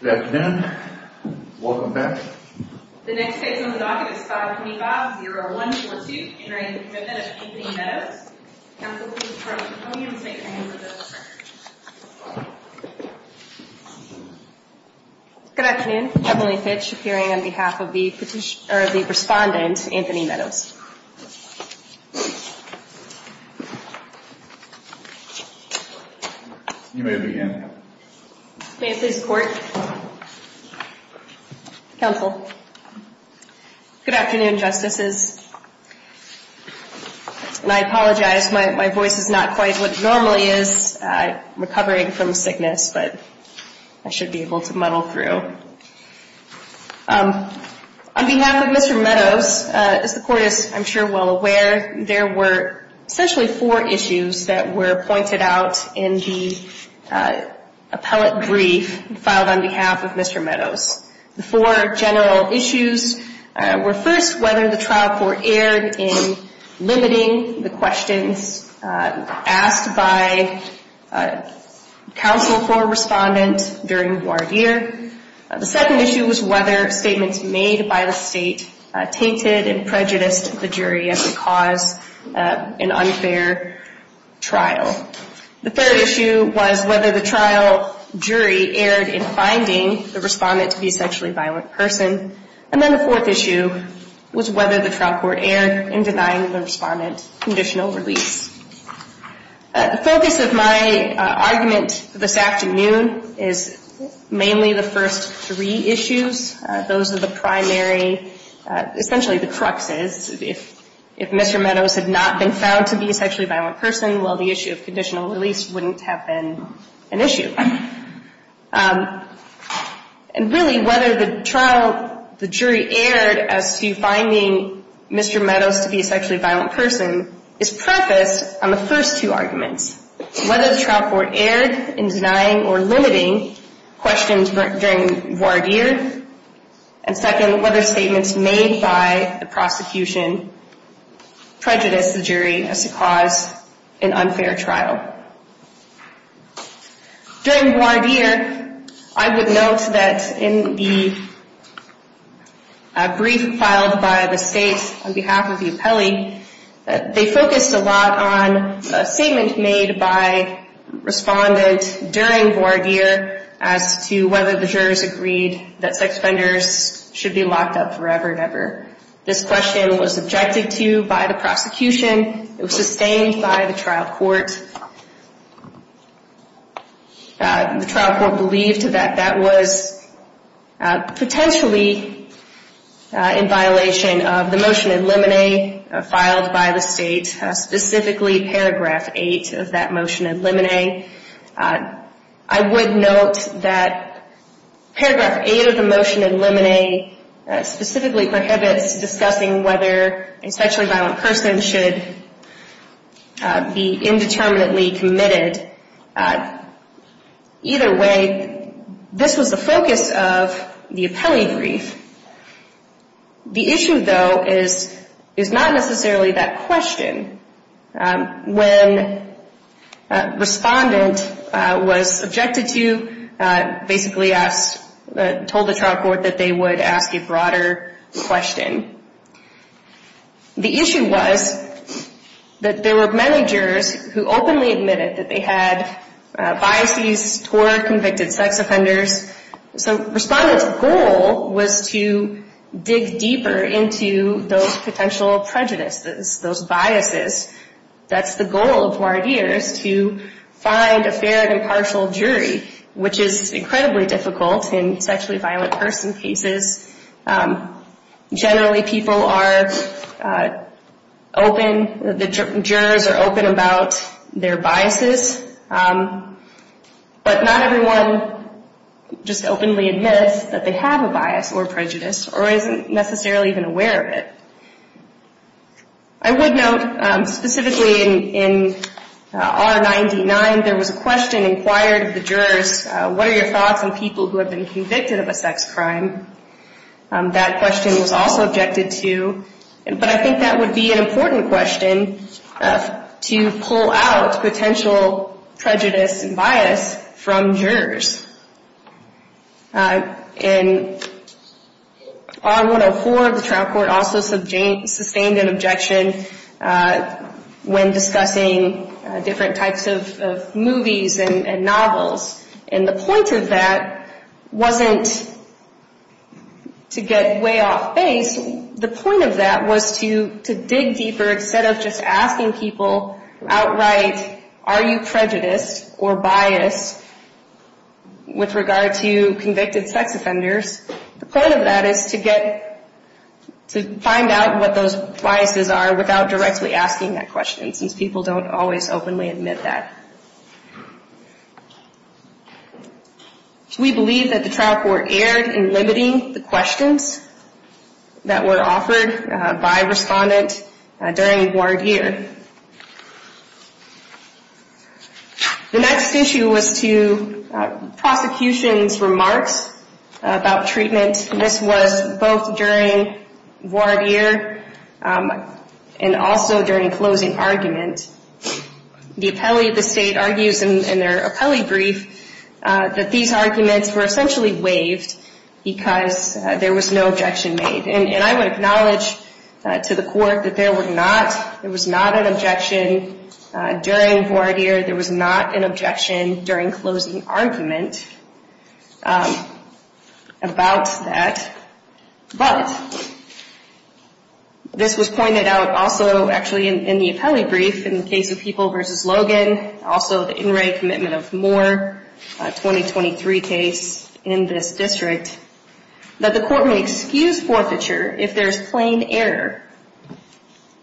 Good afternoon. Welcome back. The next case on the docket is 525-0142. Entering the Commitment of Anthony Meadows. Good afternoon. Emily Fitch appearing on behalf of the petitioner, the respondent, Anthony Meadows. You may begin. May I please report? Counsel. Good afternoon, Justices. And I apologize, my voice is not quite what it normally is. I'm recovering from sickness, but I should be able to muddle through. On behalf of Mr. Meadows, as the Court is, I'm sure, well aware, there were essentially four issues that were pointed out in the The four general issues were first whether the trial court erred in limiting the questions asked by counsel for a respondent during The second issue was whether statements made by the State tainted and prejudiced the jury as it caused an unfair trial. The third issue was whether the trial jury erred in finding the respondent to be a sexually violent person. And then the fourth issue was whether the trial court erred in denying the respondent conditional release. The focus of my argument this afternoon is mainly the first three issues. Those are the primary, essentially the cruxes. If Mr. Meadows had not been found to be a sexually violent person, well, the issue of conditional release wouldn't have been an issue. And really, whether the trial, the jury erred as to finding Mr. Meadows to be a sexually violent person is prefaced on the first two arguments. Whether the trial court erred in denying or limiting questions during voir dire. And second, whether statements made by the prosecution prejudiced the jury as to cause an unfair trial. During voir dire, I would note that in the brief filed by the State on behalf of the appellee, they focused a lot on a statement made by a respondent during voir dire as to whether the jurors agreed that sex offenders should be locked up forever and ever. This question was objected to by the prosecution. It was sustained by the trial court. The trial court believed that that was potentially in violation of the motion in limine, filed by the State, specifically paragraph 8 of that motion in limine. I would note that paragraph 8 of the motion in limine specifically prohibits discussing whether a sexually violent person should be indeterminately committed. Either way, this was the focus of the appellee brief. The issue, though, is not necessarily that question. When respondent was objected to, basically asked, told the trial court that they would ask a broader question. The issue was that there were many jurors who openly admitted that they had biases toward convicted sex offenders. Respondent's goal was to dig deeper into those potential prejudices, those biases. That's the goal of voir dire is to find a fair and impartial jury, which is incredibly difficult in sexually violent person cases. Generally, people are open, the jurors are open about their biases. But not everyone just openly admits that they have a bias or prejudice, or isn't necessarily even aware of it. I would note, specifically in R99, there was a question inquired of the jurors, what are your thoughts on people who have been convicted of a sex crime? That question was also objected to. But I think that would be an important question to pull out potential prejudice and bias from jurors. In R104, the trial court also sustained an objection when discussing different types of movies and novels. And the point of that wasn't to get way off base. The point of that was to dig deeper, instead of just asking people outright, are you prejudiced or biased with regard to convicted sex offenders? The point of that is to find out what those biases are without directly asking that question, since people don't always openly admit that. We believe that the trial court erred in limiting the questions that were offered by respondents during voir dire. The next issue was to prosecution's remarks about treatment. This was both during voir dire and also during closing argument. The appellee of the state argues in their appellee brief that these arguments were essentially waived because there was no objection made. And I would acknowledge to the court that there was not an objection during voir dire, there was not an objection during closing argument about that. But this was pointed out also, actually, in the appellee brief, in the case of People v. Logan, also the In Re commitment of Moore, a 2023 case in this district, that the court may excuse forfeiture if there is plain error,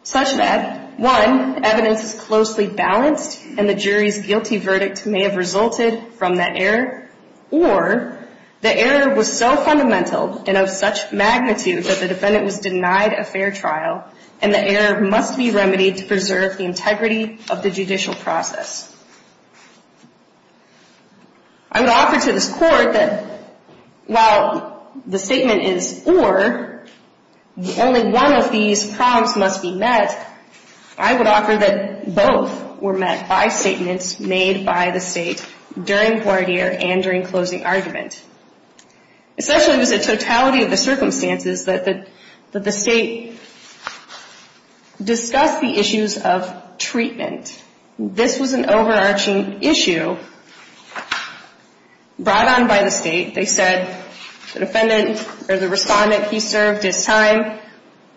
such that, one, evidence is closely balanced and the jury's guilty verdict may have resulted from that error, or the error was so fundamental and of such magnitude that the defendant was denied a fair trial, and the error must be remedied to preserve the integrity of the judicial process. I would offer to this court that while the statement is or, only one of these prompts must be met, I would offer that both were met by statements made by the state during voir dire and during closing argument. Essentially, it was a totality of the circumstances that the state discussed the issues of treatment. This was an overarching issue brought on by the state. They said, the defendant, or the respondent, he served his time.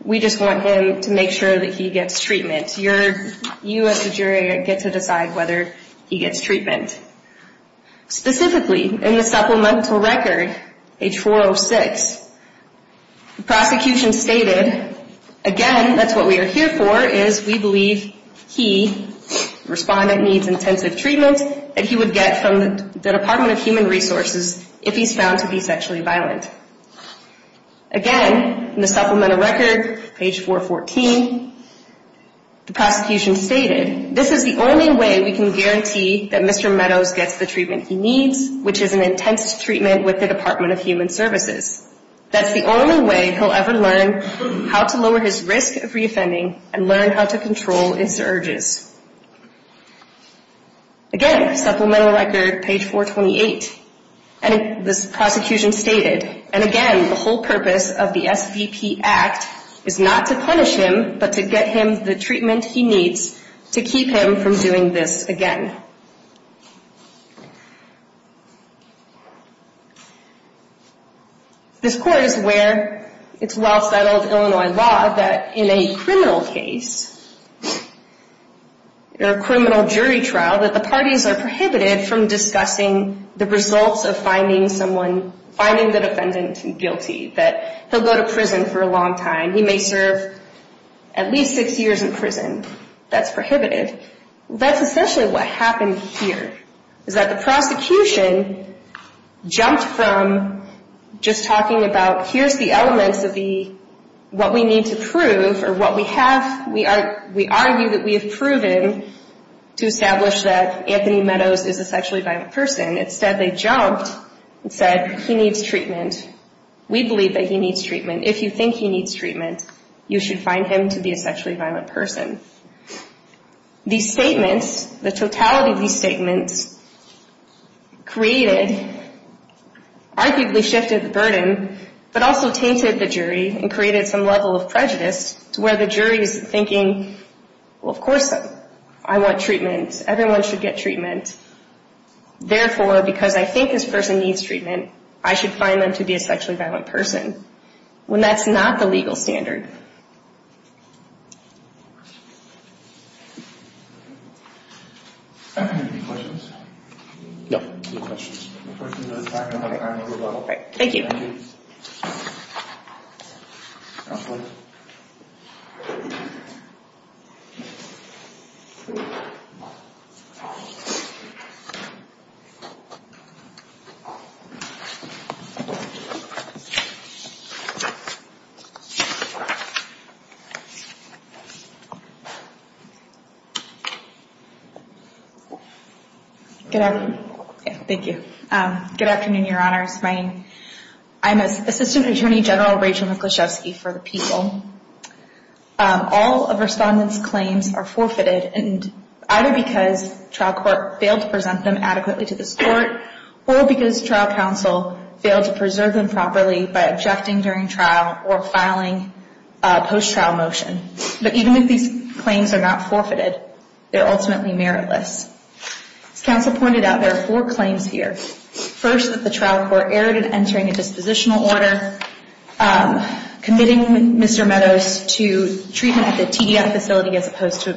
We just want him to make sure that he gets treatment. You as the jury get to decide whether he gets treatment. Specifically, in the supplemental record, H406, the prosecution stated, again, that's what we are here for, is we believe he, the respondent, needs intensive treatment that he would get from the Department of Human Resources if he's found to be sexually violent. Again, in the supplemental record, page 414, the prosecution stated, this is the only way we can guarantee that Mr. Meadows gets the treatment he needs, which is an intense treatment with the Department of Human Services. That's the only way he'll ever learn how to lower his risk of reoffending and learn how to control his urges. Again, supplemental record, page 428, and this prosecution stated, and again, the whole purpose of the SVP Act is not to punish him, but to get him the treatment he needs to keep him from doing this again. This court is aware, it's well-settled Illinois law, that in a criminal case, or a criminal jury trial, that the parties are prohibited from discussing the results of finding the defendant guilty, that he'll go to prison for a long time. He may serve at least six years in prison. That's prohibited. That's essentially what happened here, is that the prosecution jumped from just talking about, here's the elements of what we need to prove, or what we have, we argue that we have proven, to establish that Anthony Meadows is a sexually violent person. Instead, they jumped and said, he needs treatment. We believe that he needs treatment. If you think he needs treatment, you should find him to be a sexually violent person. These statements, the totality of these statements, created, arguably shifted the burden, but also tainted the jury and created some level of prejudice to where the jury is thinking, well, of course I want treatment. Everyone should get treatment. Therefore, because I think this person needs treatment, I should find them to be a sexually violent person, when that's not the legal standard. Any questions? No. Thank you. Good afternoon. Thank you. Good afternoon, Your Honors. I'm Assistant Attorney General Rachel Michalczewski for the People. All of Respondent's claims are forfeited, either because trial court failed to present them adequately to the court, or because trial counsel failed to preserve them properly by objecting during trial or filing a post-trial motion. But even if these claims are not forfeited, they are ultimately meritless. As counsel pointed out, there are four claims here. First, that the trial court erred in entering a dispositional order, committing Mr. Meadows to treatment at the TDF facility as opposed to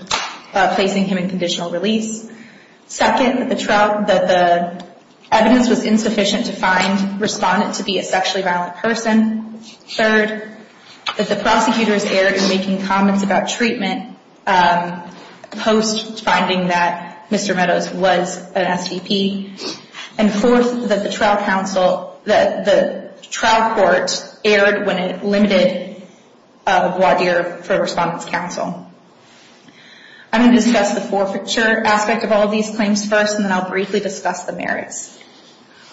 placing him in conditional release. Second, that the evidence was insufficient to find Respondent to be a sexually violent person. Third, that the prosecutors erred in making comments about treatment post-finding that Mr. Meadows was an STP. And fourth, that the trial court erred when it limited a voir dire for Respondent's counsel. I'm going to discuss the forfeiture aspect of all of these claims first, and then I'll briefly discuss the merits.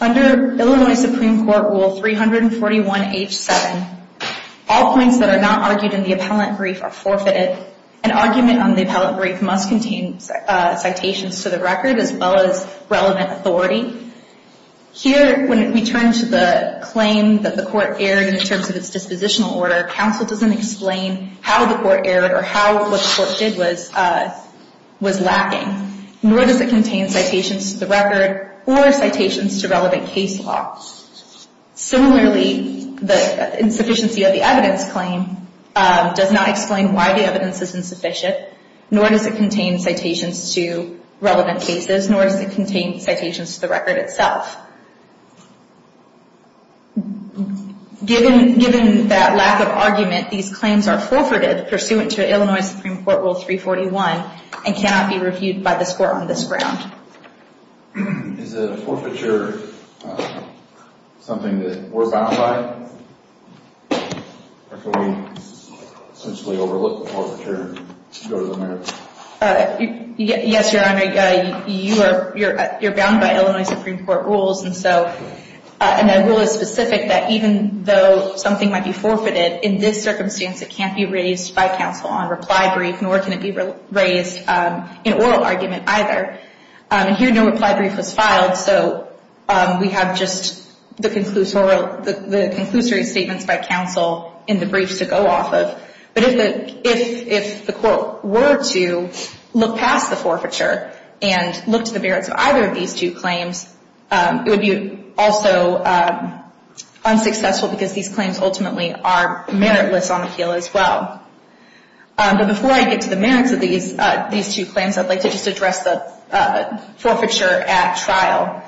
Under Illinois Supreme Court Rule 341H7, all points that are not argued in the appellant brief are forfeited, and argument on the appellant brief must contain citations to the record as well as relevant authority. Here, when we turn to the claim that the court erred in terms of its dispositional order, counsel doesn't explain how the court erred or how what the court did was lacking. Nor does it contain citations to the record or citations to relevant case law. Similarly, the insufficiency of the evidence claim does not explain why the evidence is insufficient, nor does it contain citations to relevant cases, nor does it contain citations to the record itself. Given that lack of argument, these claims are forfeited pursuant to Illinois Supreme Court Rule 341 and cannot be reviewed by this court on this ground. Is a forfeiture something that we're bound by? Or can we essentially overlook the forfeiture and go to the merits? Yes, Your Honor, you're bound by Illinois Supreme Court rules, and so and that rule is specific that even though something might be forfeited, in this circumstance, it can't be raised by counsel on reply brief nor can it be raised in oral argument either. And here no reply brief was filed, so we have just the conclusory statements by counsel in the briefs to go off of. But if the court were to look past the forfeiture and look to the merits of either of these two claims, it would be also unsuccessful because these claims ultimately are meritless on the heel as well. But before I get to the merits of these two claims, I'd like to just address the forfeiture at trial.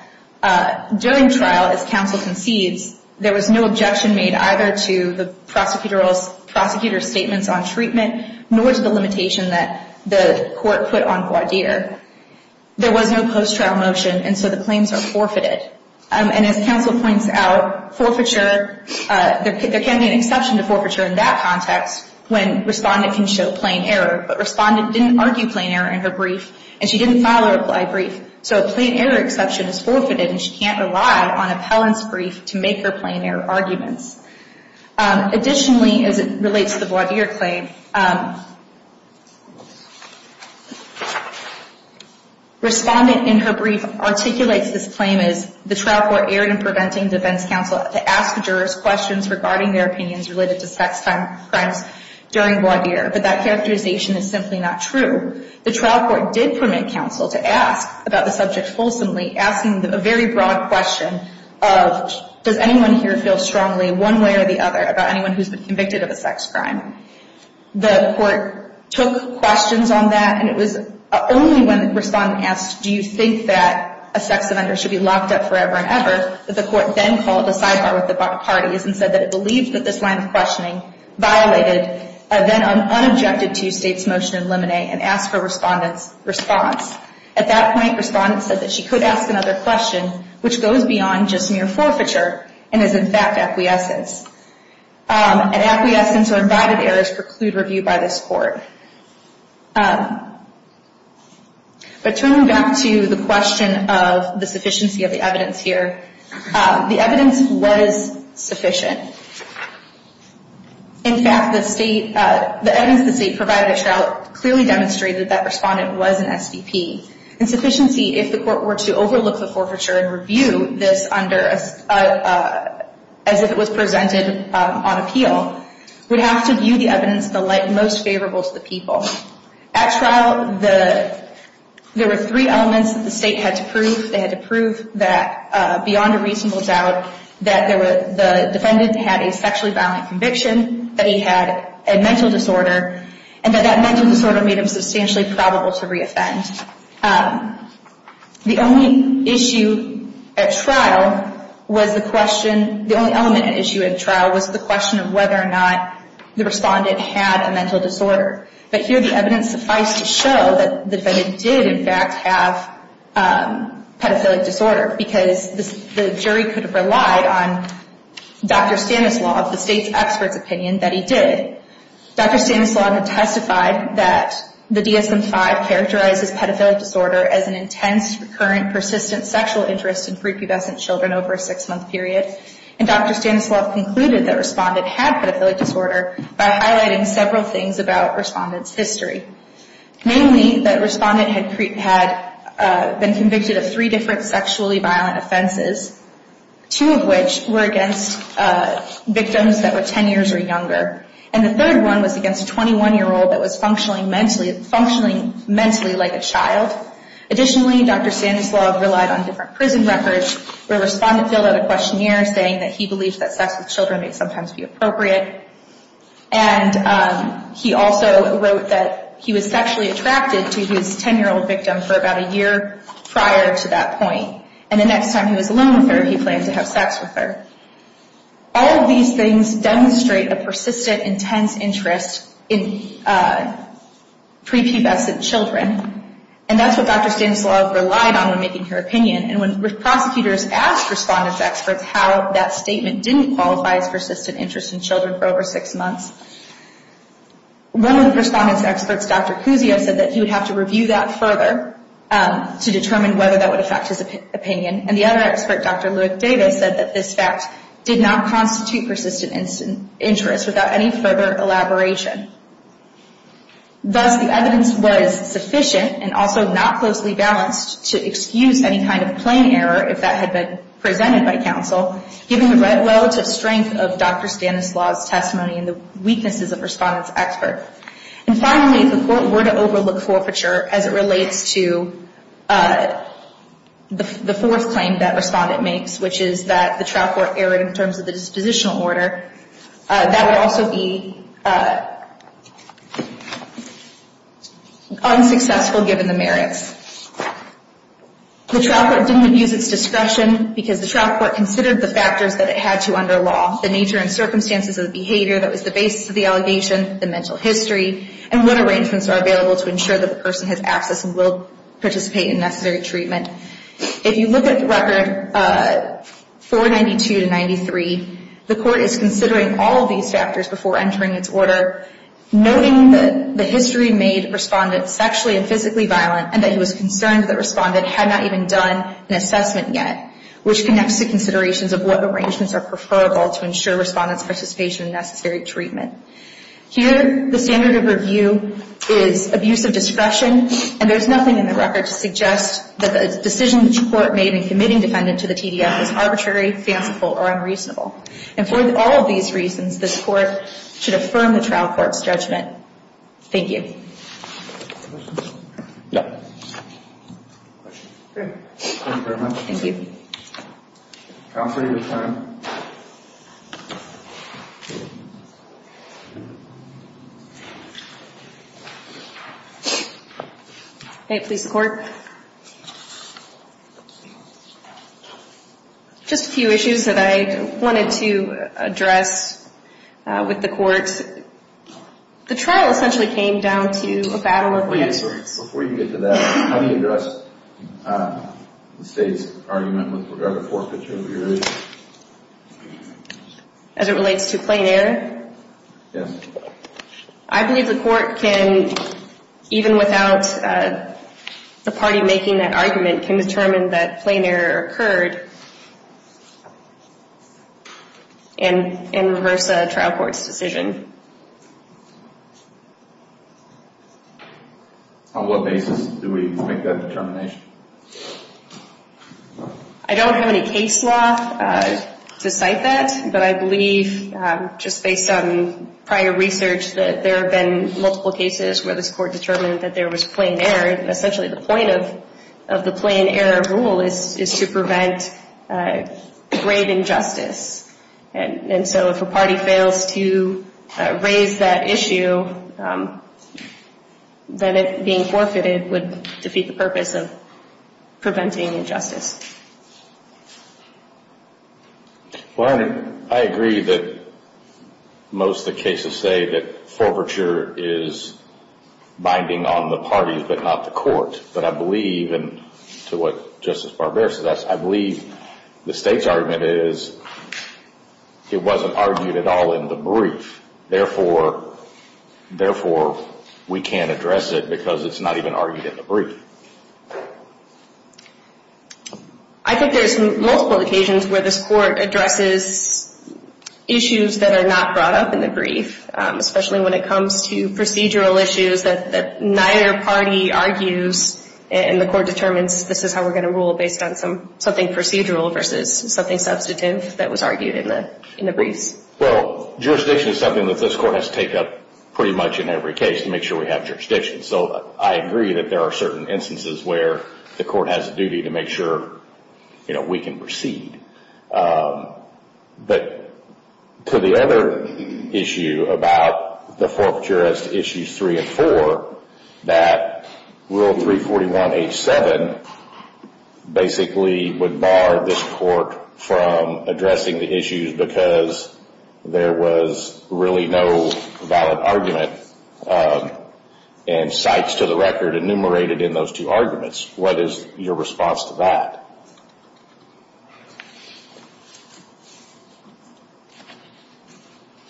During trial, as counsel concedes, there was no objection made either to the prosecutor's statements on treatment nor to the limitation that the court put on Guadir. There was no post-trial motion, and so the claims are forfeited. And as counsel points out, forfeiture, there can be an exception to forfeiture in that context when respondent can show plain error. But respondent didn't argue plain error in her brief and she didn't file a reply brief, so a plain error exception is forfeited and she can't rely on appellant's brief to make her plain error arguments. Additionally, as it relates to the Guadir claim, respondent in her brief articulates this claim as, the trial court erred in preventing defense counsel to ask jurors questions regarding their opinions related to sex crimes during Guadir, but that characterization is simply not true. The trial court did permit counsel to ask about the subject fulsomely, asking a very broad question of, does anyone here feel strongly one way or the other about anyone who's been convicted of a sex crime? The court took questions on that, and it was only when respondent asked, do you think that a sex offender should be locked up forever and ever, that the court then called a sidebar with the parties and said that it believed that this line of questioning violated and then unobjected to state's motion in limine and asked for respondent's response. At that point there was no acquiescence. And acquiescence or invited errors preclude review by this court. But turning back to the question of the sufficiency of the evidence here, the evidence was sufficient. In fact, the evidence the state provided at trial clearly demonstrated that that respondent was an SDP. Insufficiency, if the court were to overlook the forfeiture and review this under as if it was presented on appeal, would have to view the evidence in the light most favorable to the people. At trial, there were three elements that the state had to prove. They had to prove that beyond a reasonable doubt that the defendant had a sexually violent conviction, that he had a mental disorder, and that that mental disorder made him substantially probable to re-offend. The only issue at trial was the question the only element at issue at trial was the question of whether or not the respondent had a mental disorder. But here the evidence sufficed to show that the defendant did in fact have pedophilic disorder because the jury could have relied on Dr. Stanislau of the state's expert's opinion that he did. Dr. Stanislau had testified that the DSM-5 characterizes pedophilic disorder as an intense, recurrent, persistent sexual interest in prepubescent children over a six-month period. And Dr. Stanislau concluded that the respondent had pedophilic disorder by highlighting several things about the respondent's history, namely that the respondent had been convicted of three different sexually violent offenses, two of which were against victims that were ten years or younger, and the third one was against a 21-year-old that was functioning mentally like a child. Additionally, Dr. Stanislau relied on different prison records where the respondent filled out a questionnaire saying that he believes that sex with children may sometimes be appropriate. And he also wrote that he was sexually attracted to his ten-year-old victim for about a year prior to that point. And the next time he was alone with her, he planned to have sex with her. All of these things demonstrate a persistent, intense interest in prepubescent children. And that's what Dr. Stanislau relied on when making her opinion. And when prosecutors asked respondent's experts how that statement didn't qualify as persistent interest in children for over six months, one of the respondent's experts, Dr. Cusio, said that he would have to review that further to determine whether that would affect his opinion. And the other expert, Dr. Louis Davis, said that this fact did not constitute persistent interest without any further elaboration. Thus, the evidence was sufficient and also not closely balanced to excuse any kind of plain error if that had been presented by counsel, given the relative strength of Dr. Stanislau's testimony and the weaknesses of respondent's expert. And finally, the Court were to overlook forfeiture as it relates to the fourth claim that respondent makes, which is that the trial court erred in terms of the dispositional order. That would also be unsuccessful given the merits. The trial court didn't use its discretion because the trial court considered the factors that it had to under law, the nature and circumstances of the behavior that was the basis of the necessary treatment. If you look at Record 492-93, the Court is considering all of these factors before entering its order, noting that the history made respondent sexually and physically violent and that he was concerned that respondent had not even done an assessment yet, which connects to considerations of what arrangements are preferable to ensure respondent's participation in necessary treatment. Here, the standard of review is abuse of discretion, and there's nothing in the record to suggest that the decision the Court made in committing respondent to the TDF was arbitrary, fanciful or unreasonable. And for all of these reasons, this Court should affirm the trial court's judgment. Thank you. Thank you very much. Thank you. Counsel, you have time. May it please the Court? Just a few issues that I wanted to address with the Court. The trial essentially came down to a battle of experts. Before you get to that, how do you address the State's argument with regard to forfeiture of earrings? As it relates to plain error? Yes. I believe the Court can, even without the party making that argument, can determine that plain error occurred in reverse of the trial court's decision. On what basis do we make that determination? I don't have any case law to cite that, but I believe, just based on prior research, that there have been multiple cases where this Court determined that there was plain error. And that there was grave injustice. And so if a party fails to raise that issue, then it being forfeited would defeat the purpose of preventing injustice. Well, I agree that most of the cases say that forfeiture is binding on the parties, but not the Court. And to what Justice Barbier said, I believe the State's argument is it wasn't argued at all in the brief. Therefore, we can't address it because it's not even argued in the brief. I think there's multiple occasions where this Court addresses issues that are not brought up in the brief, especially when it comes to procedural issues that neither party argues and the Court determines this is how we're going to rule based on something procedural versus something substantive that was argued in the briefs. Well, jurisdiction is something that this Court has to take up pretty much in every case to make sure we have jurisdiction. So I agree that there are certain instances where the Court has a duty to make sure we can proceed. But to the other issue about the forfeiture as to Issues 3 and 4, that Rule 341.H.7 basically would bar this Court from addressing the issues because there was really no valid argument and sites to the record enumerated in those two arguments. What is your response to that?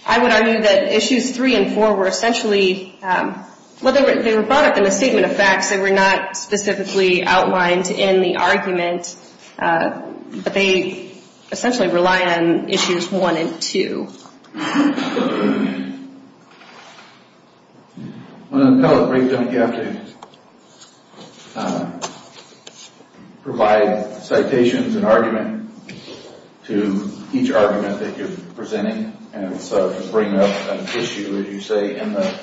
I would argue that Issues 3 and 4 were essentially, well, they were brought up in the Statement of Facts. They were not specifically outlined in the argument, but they essentially rely on Issues 1 and 2. On the appellate brief, you have to provide citations and argument. You have to provide citations to each argument that you're presenting, and so you bring up an issue, as you say, in the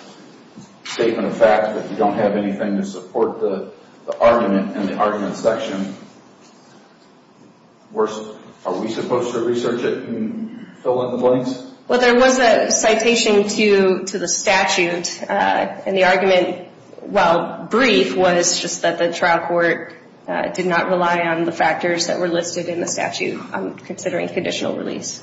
Statement of Facts, but you don't have anything to support the argument in the argument section. Are we supposed to research it and fill in the blanks? Well, there was a citation to the statute, and the argument, while brief, was just that the trial court did not rely on the factors considering conditional release.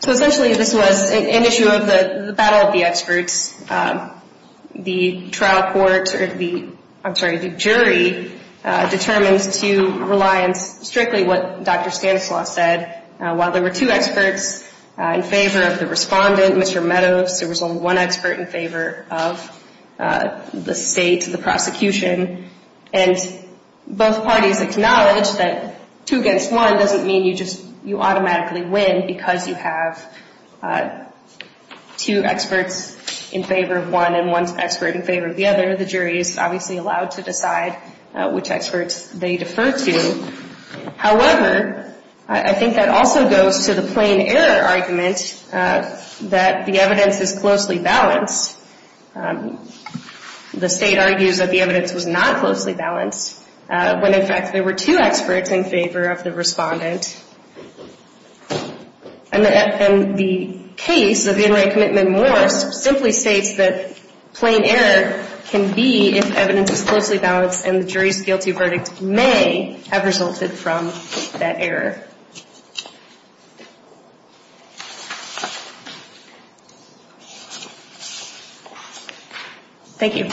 So essentially, this was an issue of the battle of the experts. The jury determines to rely on strictly what Dr. Stanislaus said. While there were two experts in favor of the respondent, Mr. Meadows, there was only one expert in favor of the state, the prosecution, and both parties acknowledge that two against one doesn't mean you automatically win, because you have two experts in favor of one and one expert in favor of the other. The jury is obviously allowed to decide which experts they defer to. However, I think that also goes to the plain error argument that the evidence is closely balanced. The state argues that the evidence was not closely balanced, when, in fact, there were two experts in favor of the respondent. And the case of In Re Commitment Moore simply states that plain error can be if evidence is closely balanced, and the jury's guilty verdict may have resulted from that error. Thank you.